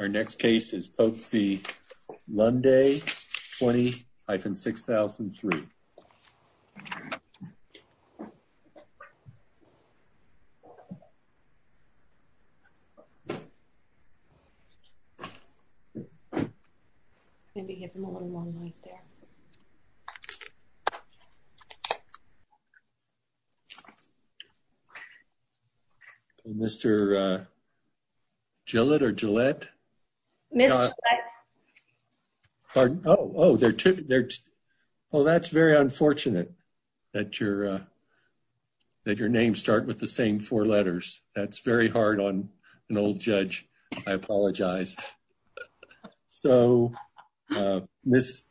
Our next case is Pope v. Lunday, 20-6003. Mr. Gillette or Gillette. Miss. Pardon. Oh, they're too. They're. Oh, that's very unfortunate that you're that your name start with the same four letters. That's very hard on an old judge. I apologize. So, Miss.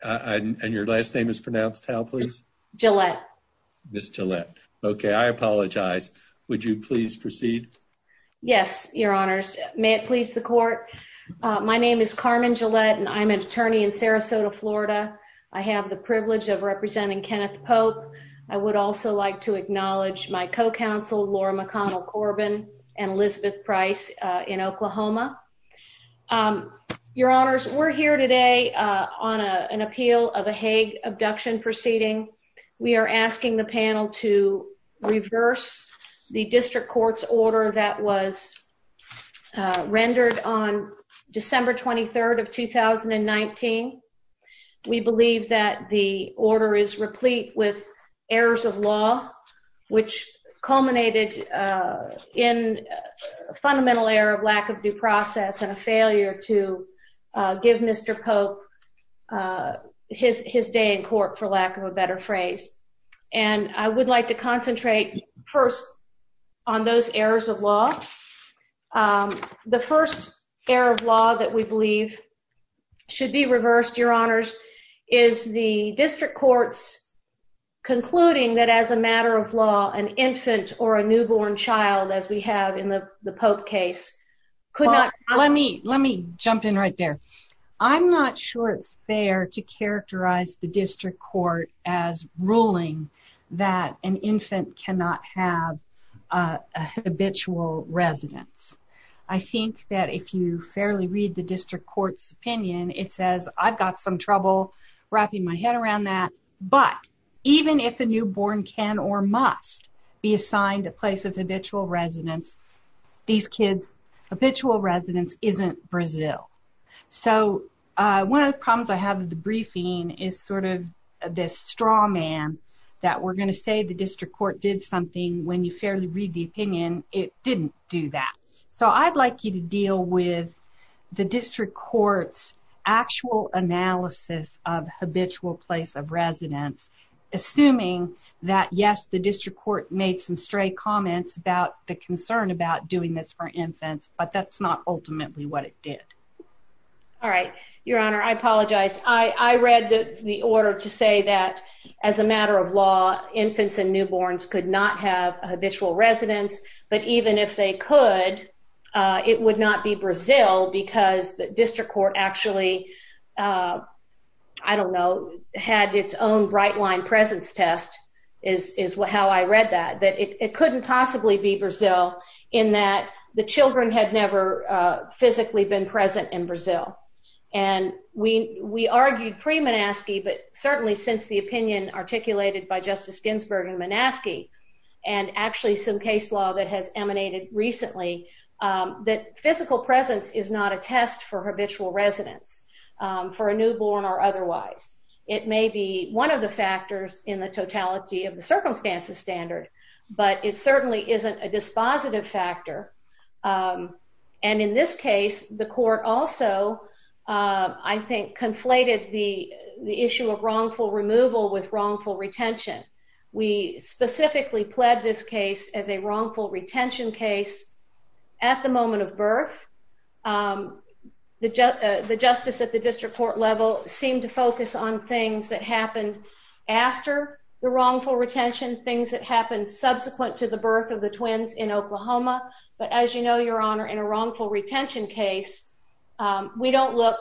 And your last name is pronounced how please Gillette. Miss Gillette. Okay, I apologize. Would you please proceed. Yes, your honors. May it please the court. My name is Carmen Gillette and I'm an attorney in Sarasota, Florida. I have the privilege of representing Kenneth Pope. I would also like to acknowledge my co counsel Laura McConnell Corbin and Elizabeth price in Oklahoma. Your honors, we're here today on an appeal of a Hague abduction proceeding. We are asking the panel to reverse the district court's order that was rendered on December 23rd of 2019. We believe that the order is replete with errors of law, which culminated in fundamental error of lack of due process and a failure to give Mr. Pope his his day in court, for lack of a better phrase. And I would like to concentrate first on those errors of law. The first error of law that we believe should be reversed, your honors, is the district courts, concluding that as a matter of law, an infant or a newborn child, as we have in the Pope case, could not let me let me jump in right there. I'm not sure it's fair to characterize the district court as ruling that an infant cannot have a habitual residence. I think that if you fairly read the district court's opinion, it says I've got some trouble wrapping my head around that. But even if a newborn can or must be assigned a place of habitual residence, these kids habitual residence isn't Brazil. So one of the problems I have with the briefing is sort of this straw man that we're going to say the district court did something when you fairly read the opinion. It didn't do that. So I'd like you to deal with the district court's actual analysis of habitual place of residence. Assuming that, yes, the district court made some stray comments about the concern about doing this for infants, but that's not ultimately what it did. All right, your honor, I apologize. I read the order to say that as a matter of law, infants and newborns could not have a habitual residence. But even if they could, it would not be Brazil because the district court actually, I don't know, had its own bright line presence test is how I read that. That it couldn't possibly be Brazil in that the children had never physically been present in Brazil. And we argued pre-Manaski, but certainly since the opinion articulated by Justice Ginsburg in Manaski, and actually some case law that has emanated recently, that physical presence is not a test for habitual residence for a newborn or otherwise. It may be one of the factors in the totality of the circumstances standard, but it certainly isn't a dispositive factor. And in this case, the court also, I think, conflated the issue of wrongful removal with wrongful retention. We specifically pled this case as a wrongful retention case at the moment of birth. The justice at the district court level seemed to focus on things that happened after the wrongful retention, things that happened subsequent to the birth of the twins in Oklahoma. But as you know, your honor, in a wrongful retention case, we don't look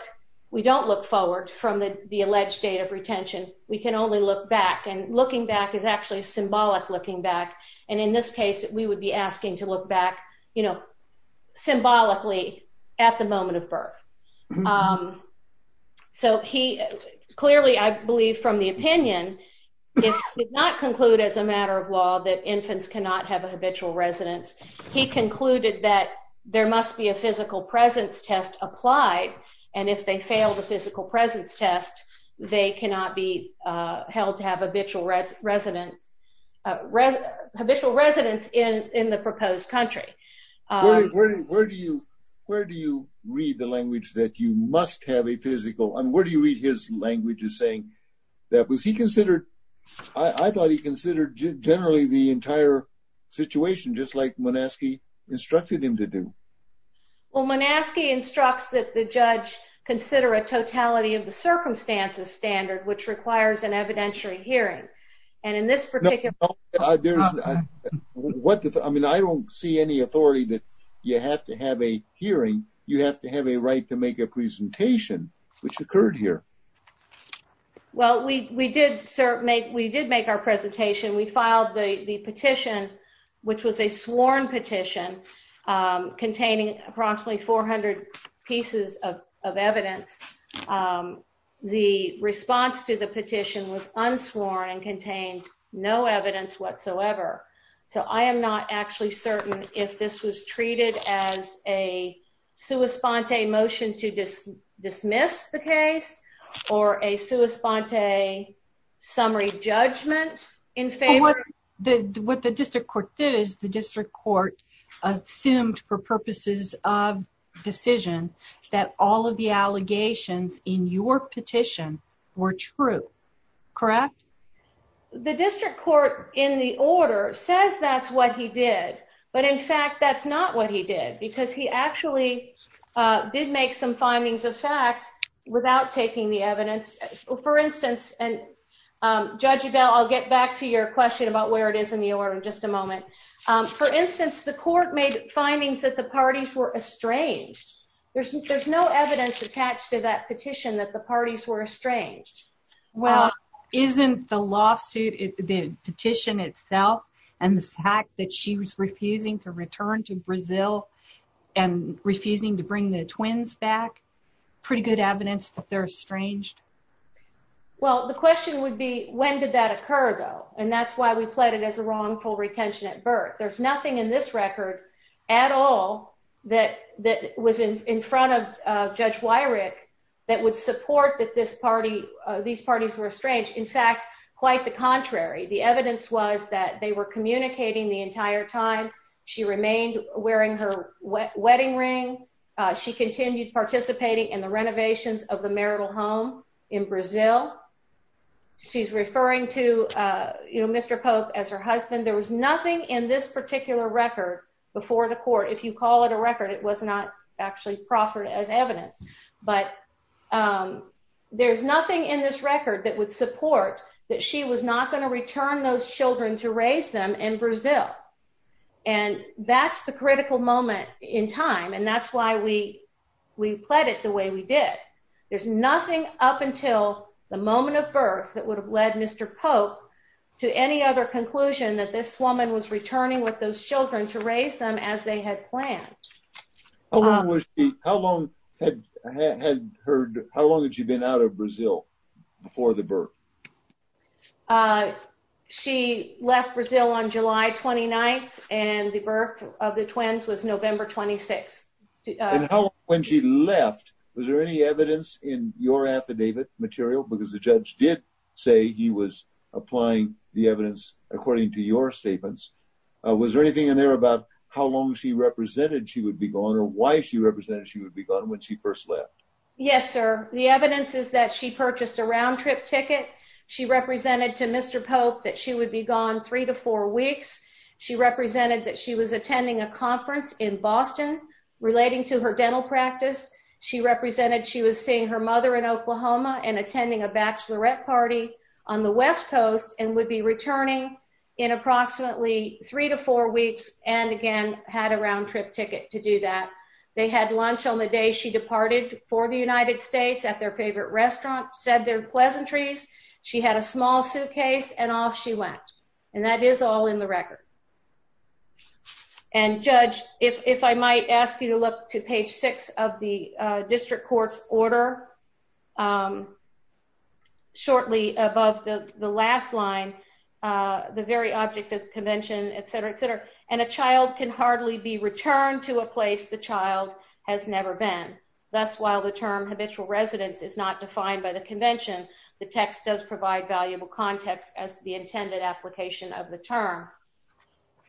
forward from the alleged date of retention. We can only look back. And looking back is actually symbolic looking back. And in this case, we would be asking to look back symbolically at the moment of birth. So he clearly, I believe from the opinion, did not conclude as a matter of law that infants cannot have a habitual residence. He concluded that there must be a physical presence test applied. And if they fail the physical presence test, they cannot be held to have habitual residence in the proposed country. Where do you read the language that you must have a physical? I mean, where do you read his language as saying that? Was he considered, I thought he considered generally the entire situation just like Monaski instructed him to do. Well, Monaski instructs that the judge consider a totality of the circumstances standard, which requires an evidentiary hearing. I mean, I don't see any authority that you have to have a hearing. You have to have a right to make a presentation, which occurred here. Well, we did make our presentation. We filed the petition, which was a sworn petition containing approximately 400 pieces of evidence. The response to the petition was unsworn and contained no evidence whatsoever. So I am not actually certain if this was treated as a sua sponte motion to dismiss the case or a sua sponte summary judgment in favor. What the district court did is the district court assumed for purposes of decision that all of the allegations in your petition were true. Correct. The district court in the order says that's what he did. But in fact, that's not what he did, because he actually did make some findings of fact without taking the evidence. Judge Avell, I'll get back to your question about where it is in the order in just a moment. For instance, the court made findings that the parties were estranged. There's no evidence attached to that petition that the parties were estranged. Well, isn't the lawsuit, the petition itself, and the fact that she was refusing to return to Brazil and refusing to bring the twins back pretty good evidence that they're estranged? Well, the question would be, when did that occur, though? And that's why we pled it as a wrongful retention at birth. There's nothing in this record at all that was in front of Judge Weirich that would support that these parties were estranged. In fact, quite the contrary. The evidence was that they were communicating the entire time. She remained wearing her wedding ring. She continued participating in the renovations of the marital home in Brazil. She's referring to Mr. Pope as her husband. There was nothing in this particular record before the court. If you call it a record, it was not actually proffered as evidence. But there's nothing in this record that would support that she was not going to return those children to raise them in Brazil. And that's the critical moment in time, and that's why we pled it the way we did. There's nothing up until the moment of birth that would have led Mr. Pope to any other conclusion that this woman was returning with those children to raise them as they had planned. How long had she been out of Brazil before the birth? She left Brazil on July 29th, and the birth of the twins was November 26th. When she left, was there any evidence in your affidavit material? Because the judge did say he was applying the evidence according to your statements. Was there anything in there about how long she represented she would be gone or why she represented she would be gone when she first left? Yes, sir. The evidence is that she purchased a round-trip ticket. She represented to Mr. Pope that she would be gone three to four weeks. She represented that she was attending a conference in Boston relating to her dental practice. She represented she was seeing her mother in Oklahoma and attending a bachelorette party on the West Coast and would be returning in approximately three to four weeks and, again, had a round-trip ticket to do that. They had lunch on the day she departed for the United States at their favorite restaurant, said their pleasantries. She had a small suitcase, and off she went. And that is all in the record. And, Judge, if I might ask you to look to page six of the district court's order, shortly above the last line, the very object of the convention, et cetera, et cetera. And a child can hardly be returned to a place the child has never been. Thus, while the term habitual residence is not defined by the convention, the text does provide valuable context as to the intended application of the term.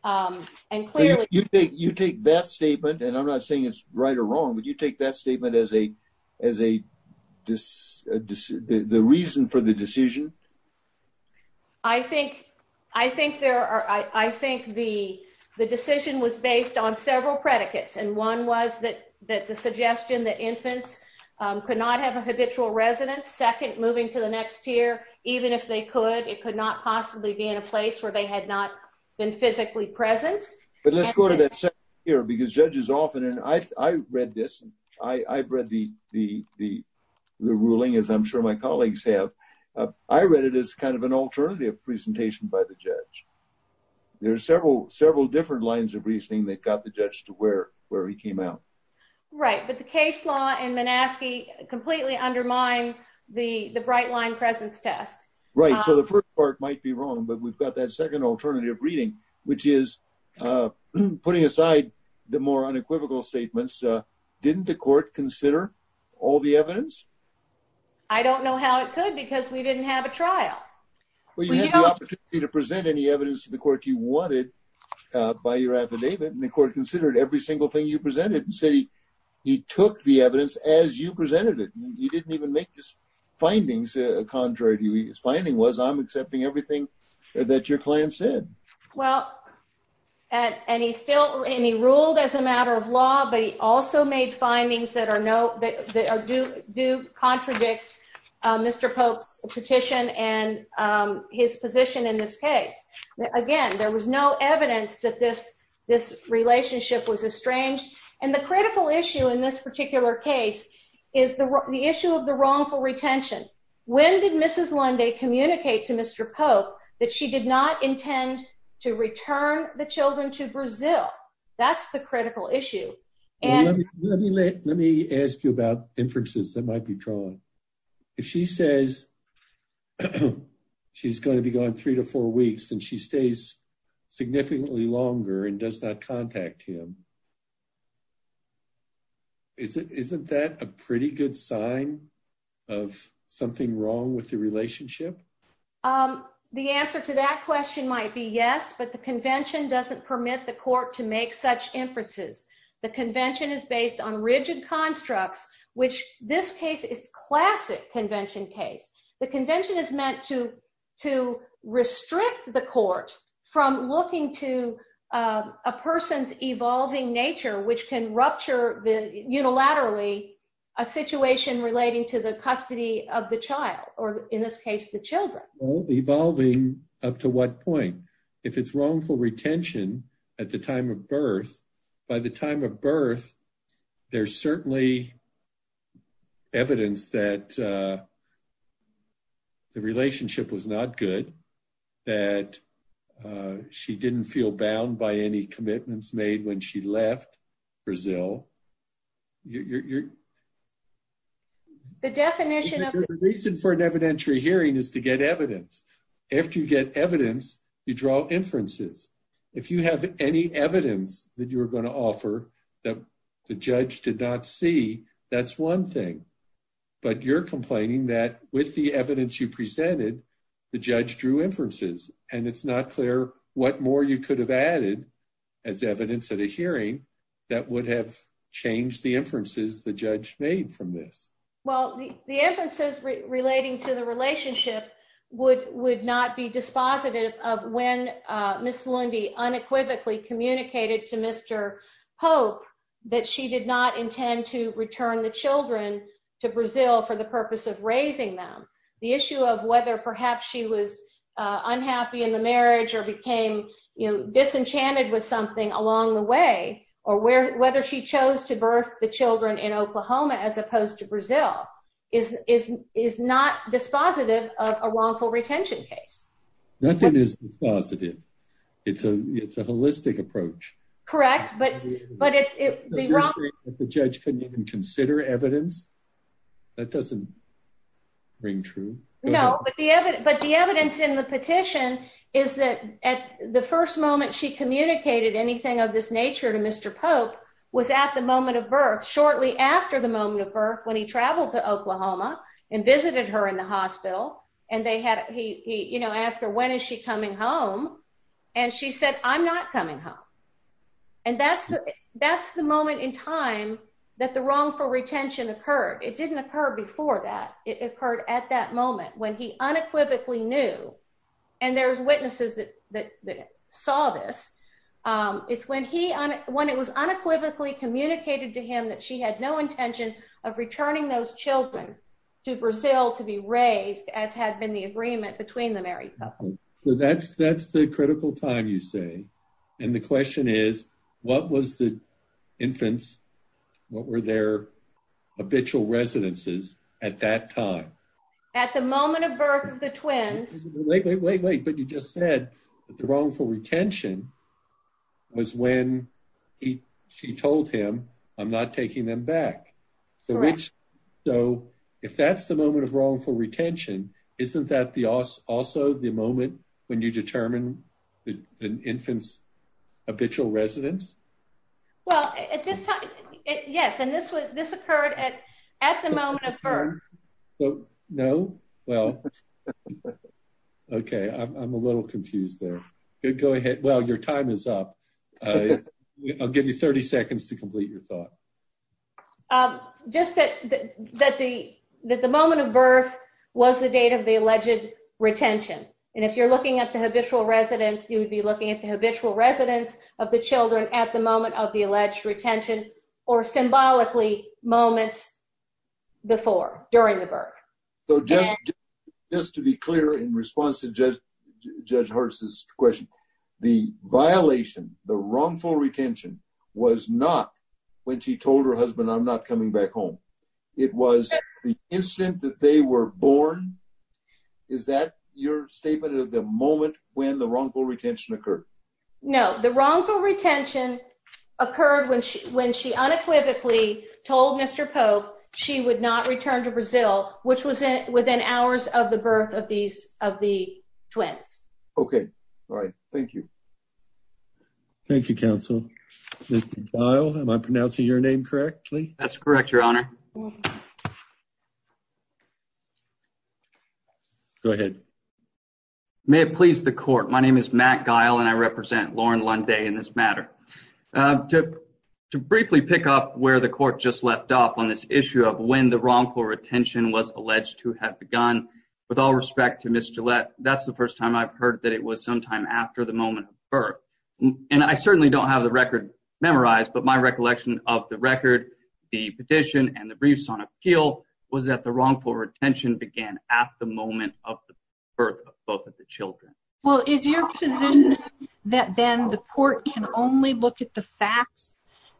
And clearly — You take that statement, and I'm not saying it's right or wrong, but you take that statement as the reason for the decision? I think there are — I think the decision was based on several predicates, and one was that the suggestion that infants could not have a habitual residence. Second, moving to the next tier, even if they could, it could not possibly be in a place where they had not been physically present. But let's go to that second tier, because judges often — and I've read this. I've read the ruling, as I'm sure my colleagues have. I read it as kind of an alternative presentation by the judge. There are several different lines of reasoning that got the judge to where he came out. Right, but the case law in Minaski completely undermined the bright-line presence test. Right, so the first part might be wrong, but we've got that second alternative reading, which is putting aside the more unequivocal statements, didn't the court consider all the evidence? I don't know how it could, because we didn't have a trial. Well, you had the opportunity to present any evidence to the court you wanted by your affidavit, and the court considered every single thing you presented and said he took the evidence as you presented it. You didn't even make these findings, contrary to you. His finding was, I'm accepting everything that your client said. Well, and he ruled as a matter of law, but he also made findings that do contradict Mr. Pope's petition and his position in this case. Again, there was no evidence that this relationship was estranged. And the critical issue in this particular case is the issue of the wrongful retention. When did Mrs. Lunde communicate to Mr. Pope that she did not intend to return the children to Brazil? That's the critical issue. Let me ask you about inferences that might be drawn. If she says she's going to be gone three to four weeks and she stays significantly longer and does not contact him, isn't that a pretty good sign of something wrong with the relationship? The answer to that question might be yes, but the convention doesn't permit the court to make such inferences. The convention is based on rigid constructs, which this case is classic convention case. The convention is meant to restrict the court from looking to a person's evolving nature, which can rupture unilaterally a situation relating to the custody of the child, or in this case, the children. Evolving up to what point? If it's wrongful retention at the time of birth, by the time of birth, there's certainly evidence that the relationship was not good, that she didn't feel bound by any commitments made when she left Brazil. The reason for an evidentiary hearing is to get evidence. After you get evidence, you draw inferences. If you have any evidence that you're going to offer that the judge did not see, that's one thing. But you're complaining that with the evidence you presented, the judge drew inferences, and it's not clear what more you could have added as evidence at a hearing that would have changed the inferences the judge made from this. Well, the inferences relating to the relationship would not be dispositive of when Miss Lundy unequivocally communicated to Mr. Hope that she did not intend to return the children to Brazil for the purpose of raising them. The issue of whether perhaps she was unhappy in the marriage or became disenchanted with something along the way, or whether she chose to birth the children in Oklahoma as opposed to Brazil, is not dispositive of a wrongful retention case. Nothing is dispositive. It's a holistic approach. Correct. You're saying that the judge couldn't even consider evidence? That doesn't ring true. No, but the evidence in the petition is that at the first moment she communicated anything of this nature to Mr. Pope was at the moment of birth, shortly after the moment of birth, when he traveled to Oklahoma and visited her in the hospital. And he asked her, when is she coming home? And she said, I'm not coming home. And that's the moment in time that the wrongful retention occurred. It didn't occur before that. It occurred at that moment when he unequivocally knew, and there's witnesses that saw this. It's when it was unequivocally communicated to him that she had no intention of returning those children to Brazil to be raised, as had been the agreement between the married couple. That's the critical time, you say. And the question is, what was the infants, what were their habitual residences at that time? At the moment of birth of the twins. Wait, wait, wait, wait. But you just said that the wrongful retention was when she told him, I'm not taking them back. So if that's the moment of wrongful retention, isn't that also the moment when you determine an infant's habitual residence? Well, at this time, yes. And this occurred at the moment of birth. No? Well, OK, I'm a little confused there. Go ahead. Well, your time is up. I'll give you 30 seconds to complete your thought. Just that the moment of birth was the date of the alleged retention. And if you're looking at the habitual residence, you would be looking at the habitual residence of the children at the moment of the alleged retention or symbolically moments before, during the birth. So just to be clear, in response to Judge Hart's question, the violation, the wrongful retention was not when she told her husband, I'm not coming back home. It was the instant that they were born. Is that your statement of the moment when the wrongful retention occurred? No. The wrongful retention occurred when she unequivocally told Mr. Pope she would not return to Brazil, which was within hours of the birth of the twins. OK. All right. Thank you. Thank you, counsel. Mr. Guile, am I pronouncing your name correctly? That's correct, Your Honor. Go ahead. May it please the court. My name is Matt Guile and I represent Lauren Lunday in this matter. To briefly pick up where the court just left off on this issue of when the wrongful retention was alleged to have begun. With all respect to Miss Gillette, that's the first time I've heard that it was sometime after the moment of birth. And I certainly don't have the record memorized, but my recollection of the record, the petition, and the briefs on appeal was that the wrongful retention began at the moment of the birth of both of the children. Well, is your position that then the court can only look at the facts,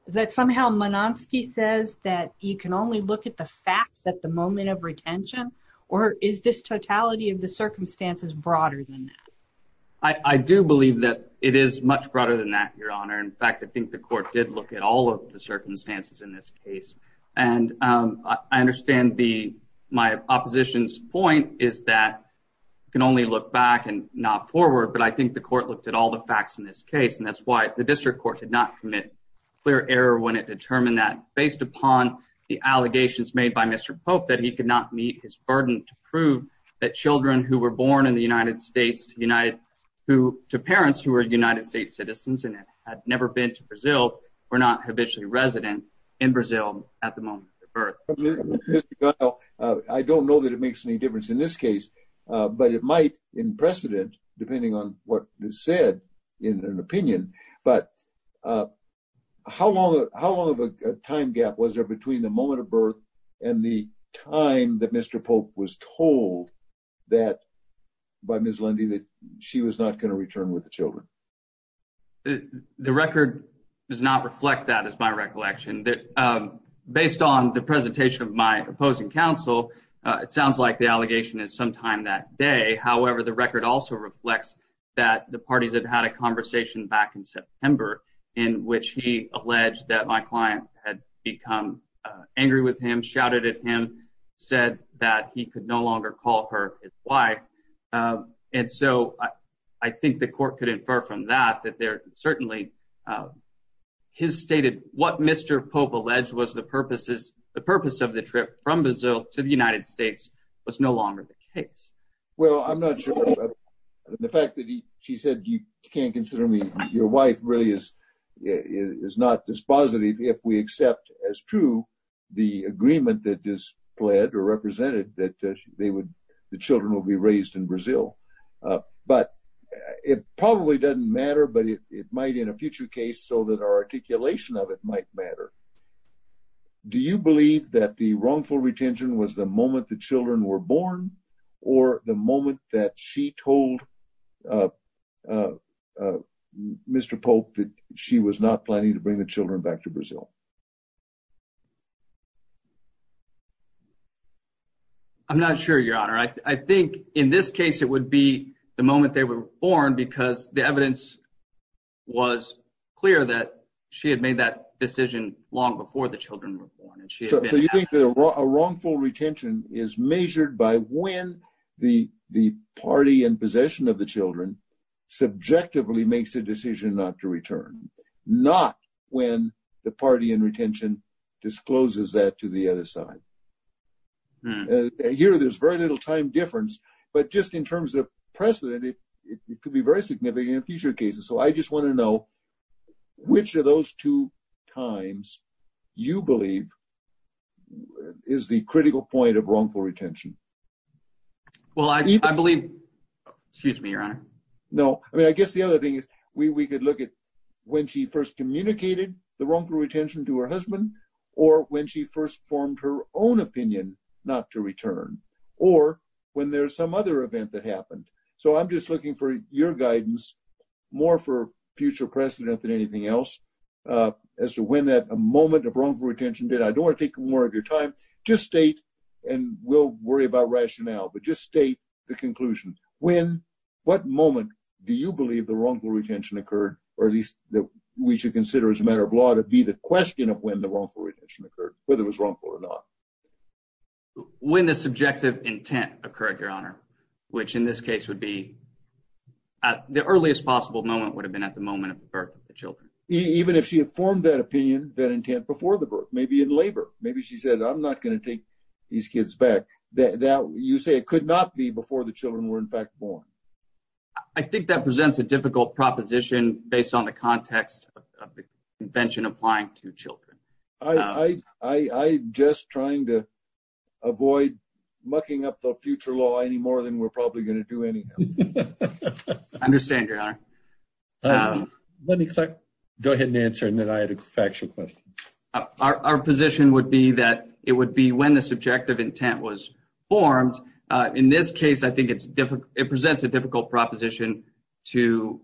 that somehow Monanski says that you can only look at the facts at the moment of retention? Or is this totality of the circumstances broader than that? I do believe that it is much broader than that, Your Honor. In fact, I think the court did look at all of the circumstances in this case. And I understand the my opposition's point is that you can only look back and not forward. But I think the court looked at all the facts in this case. And that's why the district court did not commit clear error when it determined that based upon the allegations made by Mr. Pope that he could not meet his burden to prove that children who were born in the United States to parents who are United States citizens and had never been to Brazil were not habitually resident in Brazil at the moment of birth. Well, I don't know that it makes any difference in this case, but it might in precedent, depending on what is said in an opinion. But how long how long of a time gap was there between the moment of birth and the time that Mr. Pope was told that by Ms. Lundy that she was not going to return with the children? The record does not reflect that as my recollection that based on the presentation of my opposing counsel, it sounds like the allegation is sometime that day. However, the record also reflects that the parties have had a conversation back in September in which he alleged that my client had become angry with him, shouted at him, said that he could no longer call her his wife. And so I think the court could infer from that that there certainly his stated what Mr. Pope alleged was the purposes. The purpose of the trip from Brazil to the United States was no longer the case. Well, I'm not sure the fact that she said you can't consider me your wife really is is not dispositive if we accept as true the agreement that is pled or represented that they would the children will be raised in Brazil. But it probably doesn't matter, but it might in a future case so that our articulation of it might matter. Do you believe that the wrongful retention was the moment the children were born or the moment that she told Mr. Pope that she was not planning to bring the children back to Brazil? I'm not sure, Your Honor, I think in this case it would be the moment they were born because the evidence was clear that she had made that decision long before the children were born. So you think that a wrongful retention is measured by when the party in possession of the children subjectively makes a decision not to return, not when the party in retention discloses that to the other side. Here, there's very little time difference, but just in terms of precedent, it could be very significant in future cases. So I just want to know which of those two times you believe is the critical point of wrongful retention. Well, I believe, excuse me, Your Honor. No, I mean, I guess the other thing is we could look at when she first communicated the wrongful retention to her husband or when she first formed her own opinion not to return or when there's some other event that happened. So I'm just looking for your guidance more for future precedent than anything else as to when that moment of wrongful retention did. I don't want to take more of your time. Just state, and we'll worry about rationale, but just state the conclusion. When, what moment do you believe the wrongful retention occurred, or at least that we should consider as a matter of law to be the question of when the wrongful retention occurred, whether it was wrongful or not? When the subjective intent occurred, Your Honor, which in this case would be at the earliest possible moment would have been at the moment of birth of the children. Even if she had formed that opinion, that intent before the birth, maybe in labor, maybe she said, I'm not going to take these kids back. You say it could not be before the children were in fact born. I think that presents a difficult proposition based on the context of the convention applying to children. I'm just trying to avoid mucking up the future law any more than we're probably going to do anyhow. I understand, Your Honor. Let me go ahead and answer, and then I had a factual question. Our position would be that it would be when the subjective intent was formed. In this case, I think it presents a difficult proposition to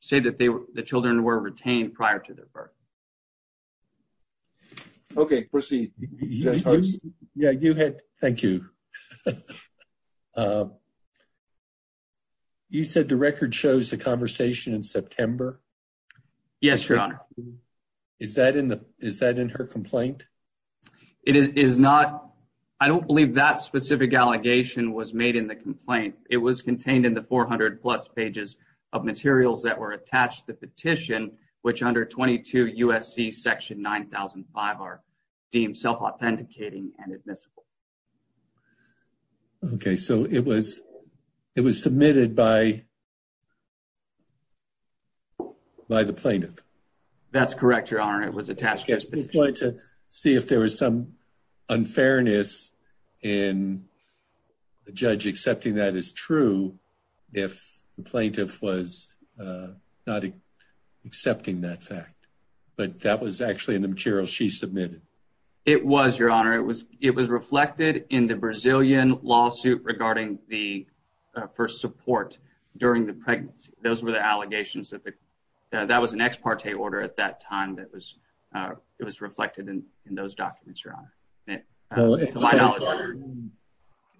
say that the children were retained prior to their birth. Okay, proceed. Thank you. You said the record shows the conversation in September? Yes, Your Honor. Is that in her complaint? I don't believe that specific allegation was made in the complaint. It was contained in the 400-plus pages of materials that were attached to the petition, which under 22 USC section 9005 are deemed self-authenticating and admissible. Okay, so it was submitted by the plaintiff? That's correct, Your Honor. It was attached to the petition. I just wanted to see if there was some unfairness in the judge accepting that as true if the plaintiff was not accepting that fact. But that was actually in the materials she submitted. It was, Your Honor. It was reflected in the Brazilian lawsuit for support during the pregnancy. Those were the allegations. That was an ex parte order at that time that was reflected in those documents, Your Honor.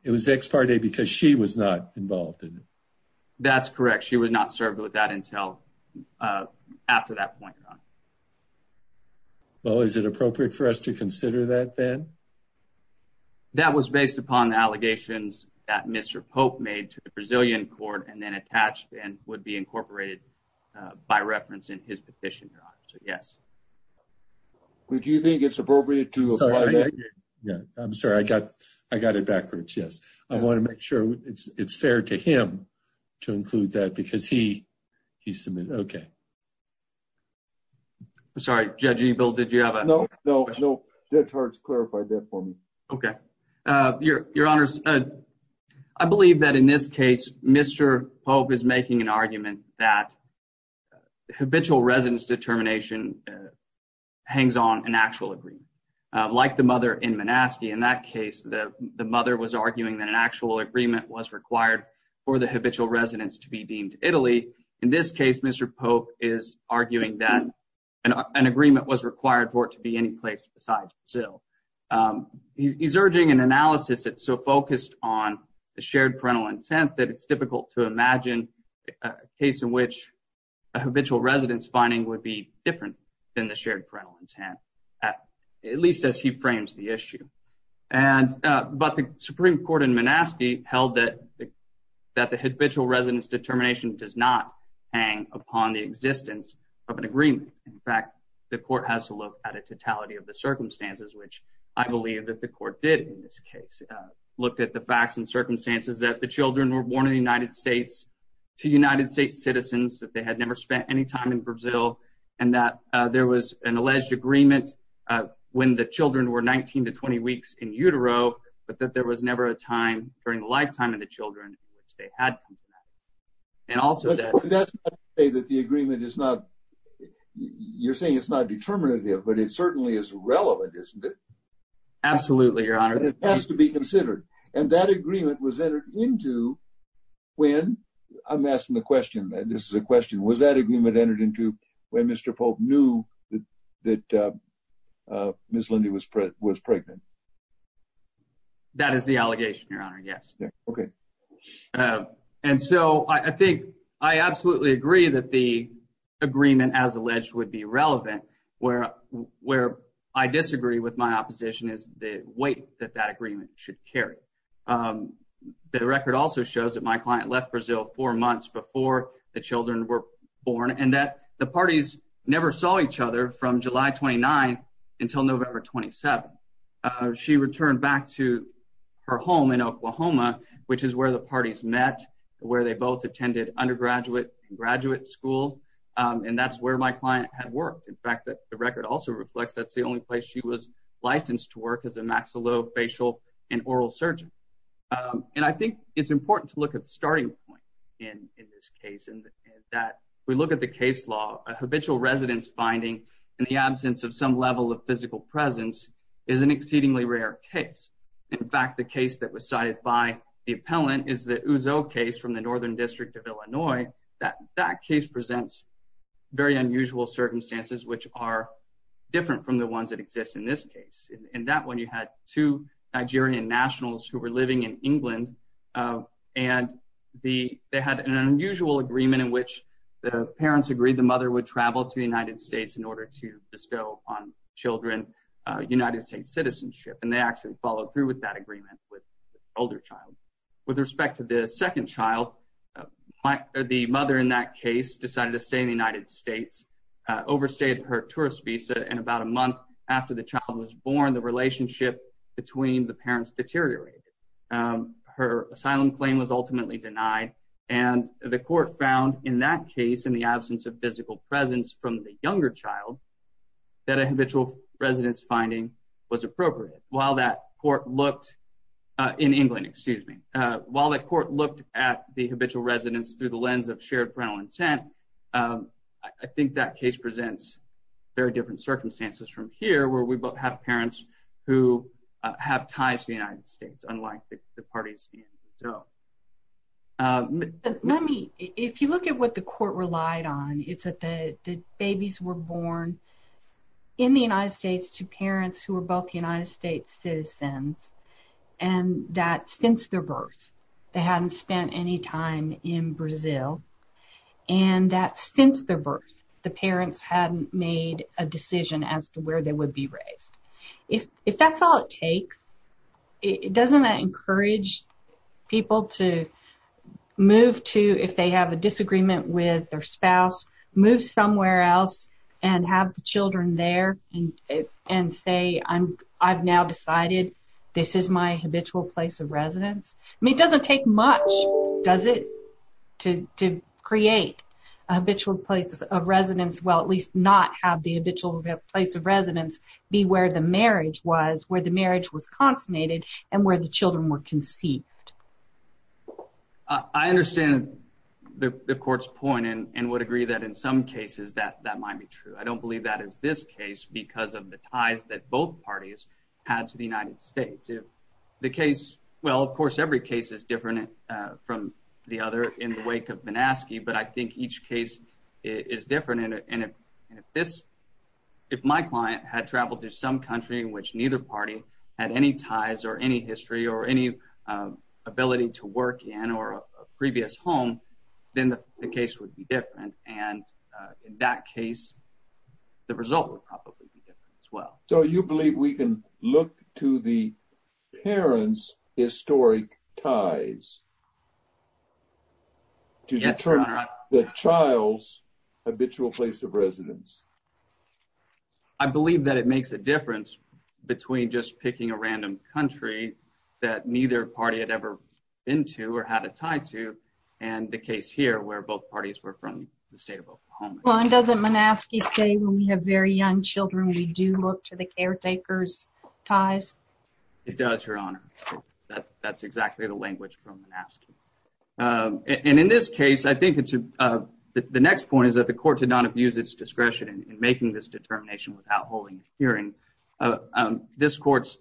It was ex parte because she was not involved in it. That's correct. She would not serve with that until after that point, Your Honor. Well, is it appropriate for us to consider that then? That was based upon the allegations that Mr. Pope made to the Brazilian court and then attached and would be incorporated by reference in his petition, Your Honor. So, yes. Do you think it's appropriate to apply that? I'm sorry. I got it backwards, yes. I want to make sure it's fair to him to include that because he submitted it. I'm sorry. Judge Ebel, did you have a question? No, no. Judge Hart's clarified that for me. Okay. Your Honor, I believe that in this case, Mr. Pope is making an argument that habitual residence determination hangs on an actual agreement. Like the mother in Manaski, in that case, the mother was arguing that an actual agreement was required for the habitual residence to be deemed Italy. In this case, Mr. Pope is arguing that an agreement was required for it to be any place besides Brazil. He's urging an analysis that's so focused on the shared parental intent that it's difficult to imagine a case in which a habitual residence finding would be different than the shared parental intent, at least as he frames the issue. But the Supreme Court in Manaski held that the habitual residence determination does not hang upon the existence of an agreement. In fact, the court has to look at a totality of the circumstances, which I believe that the court did in this case. It looked at the facts and circumstances that the children were born in the United States to United States citizens, that they had never spent any time in Brazil, and that there was an alleged agreement when the children were 19 to 20 weeks in utero, but that there was never a time during the lifetime of the children in which they had come to that. That's not to say that the agreement is not determinative, but it certainly is relevant, isn't it? Absolutely, Your Honor. It has to be considered. And that agreement was entered into when? I'm asking the question. This is a question. Was that agreement entered into when Mr. Pope knew that Ms. Lindy was pregnant? That is the allegation, Your Honor. Yes. Okay. And so I think I absolutely agree that the agreement, as alleged, would be relevant where I disagree with my opposition is the weight that that agreement should carry. The record also shows that my client left Brazil four months before the children were born and that the parties never saw each other from July 29 until November 27. She returned back to her home in Oklahoma, which is where the parties met, where they both attended undergraduate and graduate school, and that's where my client had worked. In fact, the record also reflects that's the only place she was licensed to work as a maxillofacial and oral surgeon. And I think it's important to look at the starting point in this case and that we look at the case law. A habitual residence finding in the absence of some level of physical presence is an exceedingly rare case. In fact, the case that was cited by the appellant is the Ouzo case from the Northern District of Illinois. That case presents very unusual circumstances, which are different from the ones that exist in this case. In that one, you had two Nigerian nationals who were living in England, and they had an unusual agreement in which the parents agreed the mother would travel to the United States in order to bestow upon children United States citizenship. And they actually followed through with that agreement with the older child. With respect to the second child, the mother in that case decided to stay in the United States, overstayed her tourist visa, and about a month after the child was born, the relationship between the parents deteriorated. Her asylum claim was ultimately denied, and the court found in that case, in the absence of physical presence from the younger child, that a habitual residence finding was appropriate. While that court looked at the habitual residence through the lens of shared parental intent, I think that case presents very different circumstances from here, where we both have parents who have ties to the United States, unlike the parties in Ouzo. If you look at what the court relied on, it's that the babies were born in the United States to parents who were both United States citizens. And that since their birth, they hadn't spent any time in Brazil. And that since their birth, the parents hadn't made a decision as to where they would be raised. If that's all it takes, doesn't that encourage people to move to, if they have a disagreement with their spouse, move somewhere else, and have the children there, and say, I've now decided this is my habitual place of residence? I mean, it doesn't take much, does it, to create a habitual place of residence? Well, at least not have the habitual place of residence be where the marriage was, where the marriage was consummated, and where the children were conceived. I understand the court's point, and would agree that in some cases that might be true. I don't believe that is this case, because of the ties that both parties had to the United States. If the case, well, of course, every case is different from the other in the wake of Banaski, but I think each case is different. And if this, if my client had traveled to some country in which neither party had any ties or any history or any ability to work in or a previous home, then the case would be different. And in that case, the result would probably be different as well. So you believe we can look to the parents' historic ties to determine the child's habitual place of residence? I believe that it makes a difference between just picking a random country that neither party had ever been to or had a tie to, and the case here where both parties were from the state of Oklahoma. Well, and doesn't Banaski say when we have very young children, we do look to the caretaker's ties? It does, Your Honor. That's exactly the language from Banaski. And in this case, I think the next point is that the court did not abuse its discretion in making this determination without holding a hearing. This court's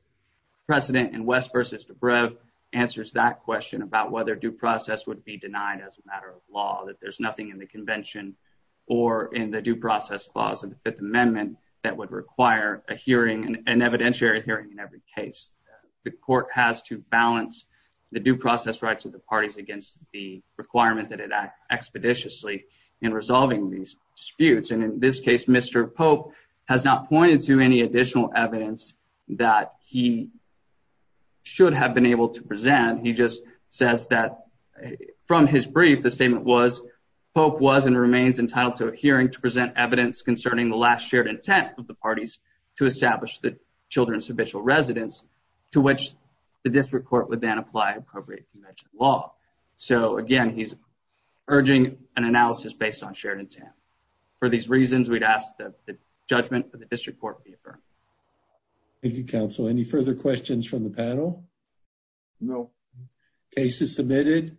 precedent in West v. DeBrev answers that question about whether due process would be denied as a matter of law, that there's nothing in the convention or in the due process clause of the Fifth Amendment that would require a hearing, an evidentiary hearing in every case. The court has to balance the due process rights of the parties against the requirement that it act expeditiously in resolving these disputes. And in this case, Mr. Pope has not pointed to any additional evidence that he should have been able to present. He just says that from his brief, the statement was, Pope was and remains entitled to a hearing to present evidence concerning the last shared intent of the parties to establish the children's habitual residence, to which the district court would then apply appropriate convention law. So, again, he's urging an analysis based on shared intent. For these reasons, we'd ask that the judgment of the district court be affirmed. Thank you, counsel. Any further questions from the panel? No. Case is submitted.